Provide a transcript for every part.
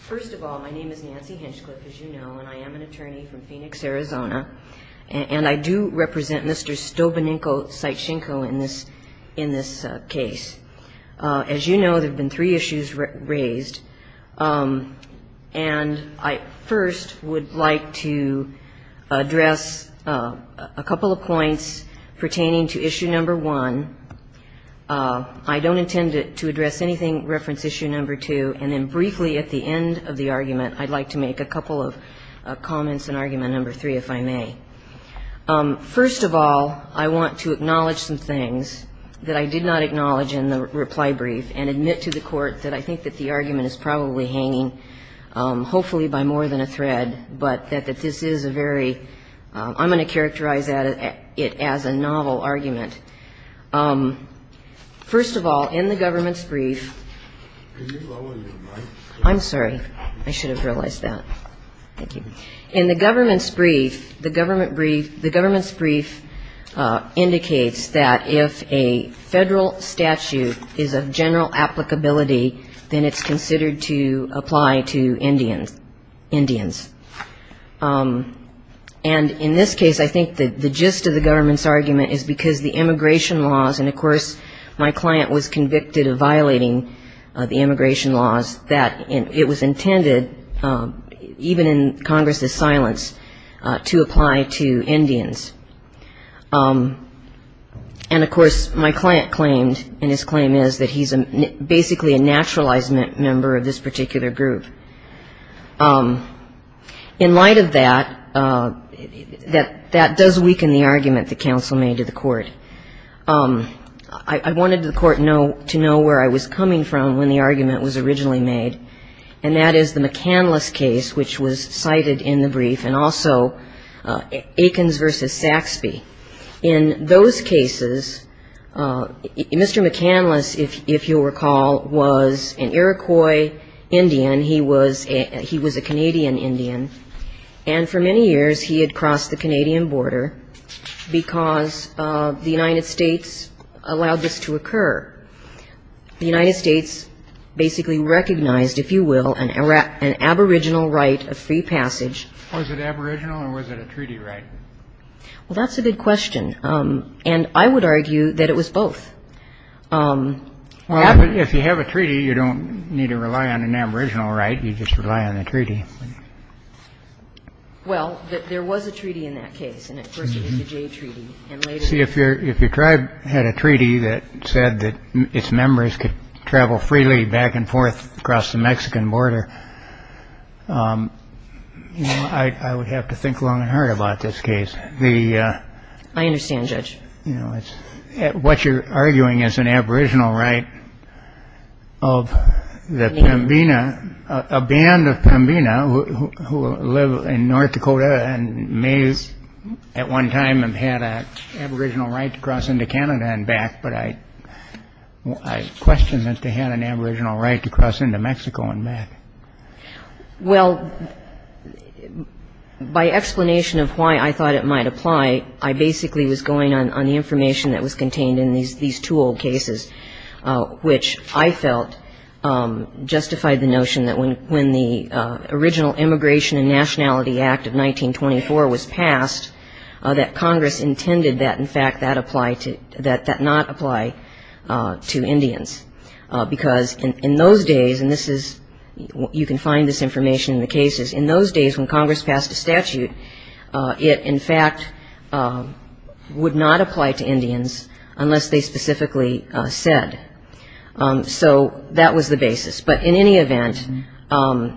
First of all, my name is Nancy Hinchcliffe, as you know, and I am an attorney from Phoenix, Arizona, and I do represent Mr. Stowbunenko Sytschenko in this case. As you know, there have been three issues raised, and I first would like to address a couple of points pertaining to issue number one. I don't intend to address anything reference issue number two, and then briefly at the end of the argument, I'd like to make a couple of comments on argument number three, if I may. First of all, I want to acknowledge some things that I did not acknowledge in the reply brief and admit to the Court that I think that the argument is probably hanging, hopefully by more than a thread, but that this is a very – I'm going to characterize it as a novel argument. First of all, in the government's brief – I'm sorry. I should have realized that. Thank you. In the government's brief, the government's brief indicates that if a federal statute is of general applicability, then it's considered to apply to Indians. And in this case, I think that the gist of the government's argument is because the immigration laws – and, of course, my client was convicted of violating the immigration laws – that it was intended, even in Congress's silence, to apply to Indians. And, of course, my client claimed, and his claim is, that he's basically a naturalized member of this particular group. In light of that, that does weaken the argument that counsel made to the Court. I wanted the Court to know where I was coming from when the argument was originally made, and that is the McCandless case, which was cited in the brief, and also Aikens v. Saxby. In those cases, Mr. McCandless, if you'll recall, was an Iroquois Indian. He was a Canadian Indian, and for many years he had crossed the Canadian border because the United States allowed this to occur. The United States basically recognized, if you will, an aboriginal right of free passage. Was it aboriginal, or was it a treaty right? Well, that's a good question, and I would argue that it was both. Well, if you have a treaty, you don't need to rely on an aboriginal right. You just rely on the treaty. Well, there was a treaty in that case, and at first it was the Jay Treaty. See, if your tribe had a treaty that said that its members could travel freely back and forth across the Mexican border, I would have to think long and hard about this case. I understand, Judge. What you're arguing is an aboriginal right of the Pembina, a band of Pembina, who live in North Dakota and may at one time have had an aboriginal right to cross into Canada and back, but I question that they had an aboriginal right to cross into Mexico and back. Well, by explanation of why I thought it might apply, I basically was going on the information that was contained in these two old cases, which I felt justified the notion that when the original Immigration and Nationality Act of 1924 was passed, that Congress intended that, in fact, that not apply to Indians. Because in those days, and you can find this information in the cases, in those days when Congress passed a statute, it, in fact, would not apply to Indians unless they specifically said. So that was the basis. But in any event,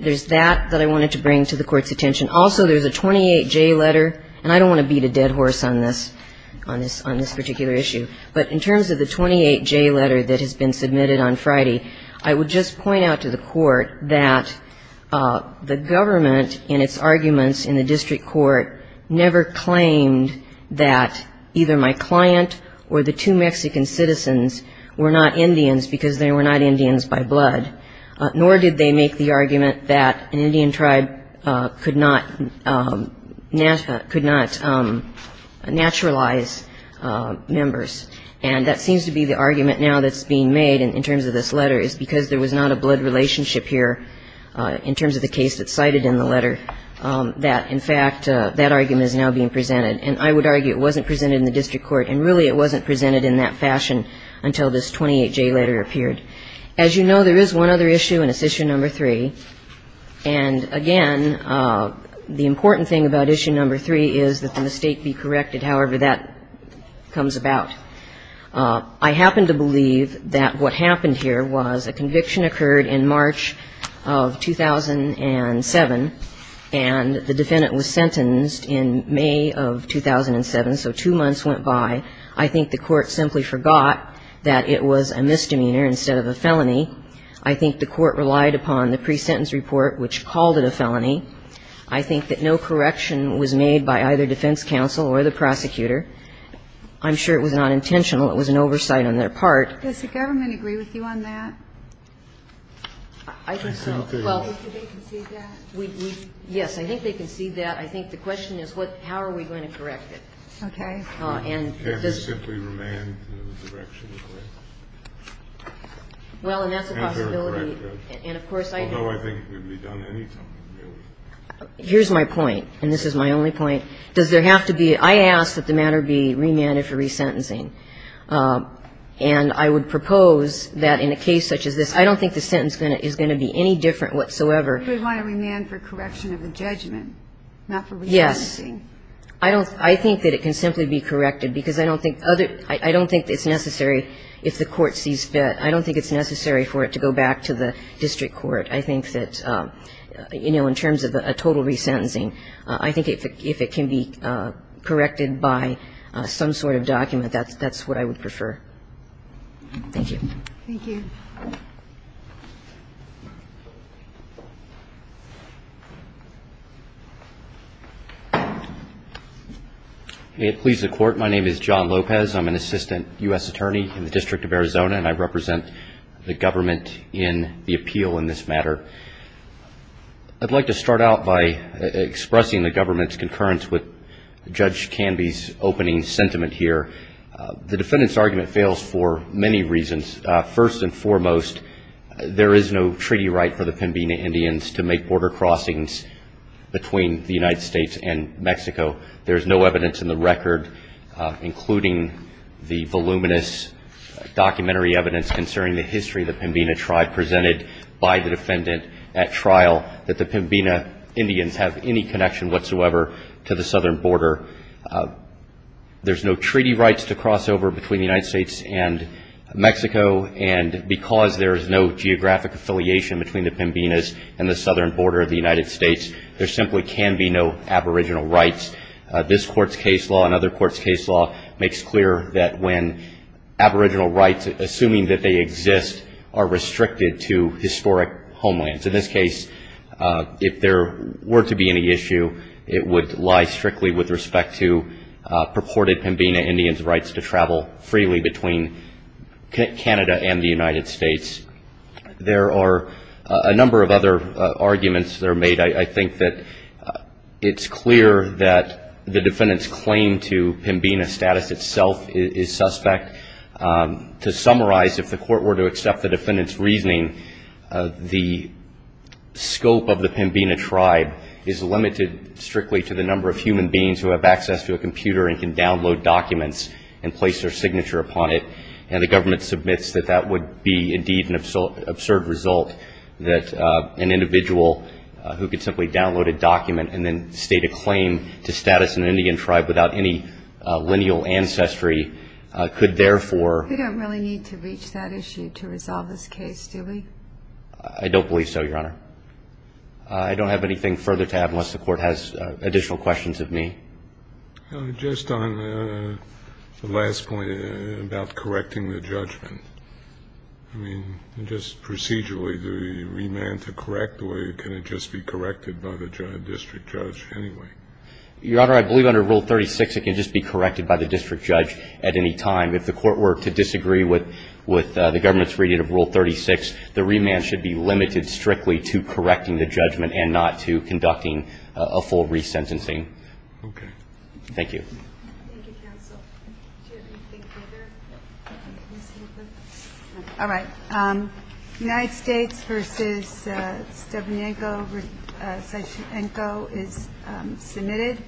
there's that that I wanted to bring to the Court's attention. Also, there's a 28J letter, and I don't want to beat a dead horse on this, on this particular issue, but in terms of the 28J letter that has been submitted on Friday, I would just point out to the Court that the government in its arguments in the district court never claimed that either my client or the two Mexican citizens were not Indians because they were not Indians by blood, nor did they make the argument that an Indian tribe could not naturalize members. And that seems to be the argument now that's being made in terms of this letter is because there was not a blood relationship here in terms of the case that's cited in the letter, that, in fact, that argument is now being presented. And I would argue it wasn't presented in the district court, and really it wasn't presented in that fashion until this 28J letter appeared. As you know, there is one other issue, and it's issue number three. And, again, the important thing about issue number three is that the mistake be corrected however that comes about. I happen to believe that what happened here was a conviction occurred in March of 2007, and the defendant was sentenced in May of 2007, so two months went by. I think the court simply forgot that it was a misdemeanor instead of a felony. I think the court relied upon the pre-sentence report, which called it a felony. I think that no correction was made by either defense counsel or the prosecutor. I'm sure it was not intentional. It was an oversight on their part. Does the government agree with you on that? I think so. Well, do they concede that? Yes, I think they concede that. I think the question is how are we going to correct it. Okay. Can't you simply remand the direction of the case? Well, and that's a possibility. Although I think it could be done any time, really. Here's my point, and this is my only point. Does there have to be – I ask that the matter be remanded for resentencing. And I would propose that in a case such as this, I don't think the sentence is going to be any different whatsoever. You would want to remand for correction of the judgment, not for resentencing. Yes. I don't – I think that it can simply be corrected because I don't think other – I don't think it's necessary if the court sees fit. I don't think it's necessary for it to go back to the district court. I think that, you know, in terms of a total resentencing, I think if it can be corrected by some sort of document, that's what I would prefer. Thank you. Thank you. May it please the Court. My name is John Lopez. I'm an assistant U.S. attorney in the District of Arizona, and I represent the government in the appeal in this matter. I'd like to start out by expressing the government's concurrence with Judge Canby's opening sentiment here. The defendant's argument fails for many reasons. First and foremost, there is no treaty right for the Pembina Indians to make border crossings between the United States and Mexico. There is no evidence in the record, including the voluminous documentary evidence concerning the history of the Pembina tribe presented by the defendant at trial, that the Pembina Indians have any connection whatsoever to the southern border. There's no treaty rights to cross over between the United States and Mexico, and because there is no geographic affiliation between the Pembinas and the southern border of the United States, there simply can be no aboriginal rights. This Court's case law and other courts' case law makes clear that when aboriginal rights, assuming that they exist, are restricted to historic homelands. In this case, if there were to be any issue, it would lie strictly with respect to purported Pembina Indians' rights to travel freely between Canada and the United States. There are a number of other arguments that are made. I think that it's clear that the defendant's claim to Pembina status itself is suspect. To summarize, if the court were to accept the defendant's reasoning, the scope of the Pembina tribe is limited strictly to the number of human beings who have access to a computer and can download documents and place their signature upon it, and the government submits that that would be indeed an absurd result, that an individual who could simply download a document and then state a claim to status in an Indian tribe without any lineal ancestry could therefore � We don't really need to reach that issue to resolve this case, do we? I don't believe so, Your Honor. I don't have anything further to add unless the court has additional questions of me. Just on the last point about correcting the judgment. I mean, just procedurally, do we demand to correct, or can it just be corrected by the district judge anyway? Your Honor, I believe under Rule 36 it can just be corrected by the district judge. Whatever the intent of the district judge to have any that is still open to the courts instead of the district judges. If you give us the design from yesterday or tomorrow, we can correct them any way that you like. I just don't think under Rule 36 we can proceed with judging Connell. We may not get to that until the conclusion of December, but it will still be subject to the legal problems that we are facing. Yes. I would disagree with the government's reading of Rule 36. The remand should be limited strictly to correcting the judgment and not to conducting a full resentencing. Okay. Thank you. Thank you, counsel. Do you have anything further? All right. United States v. Stavrenko is submitted.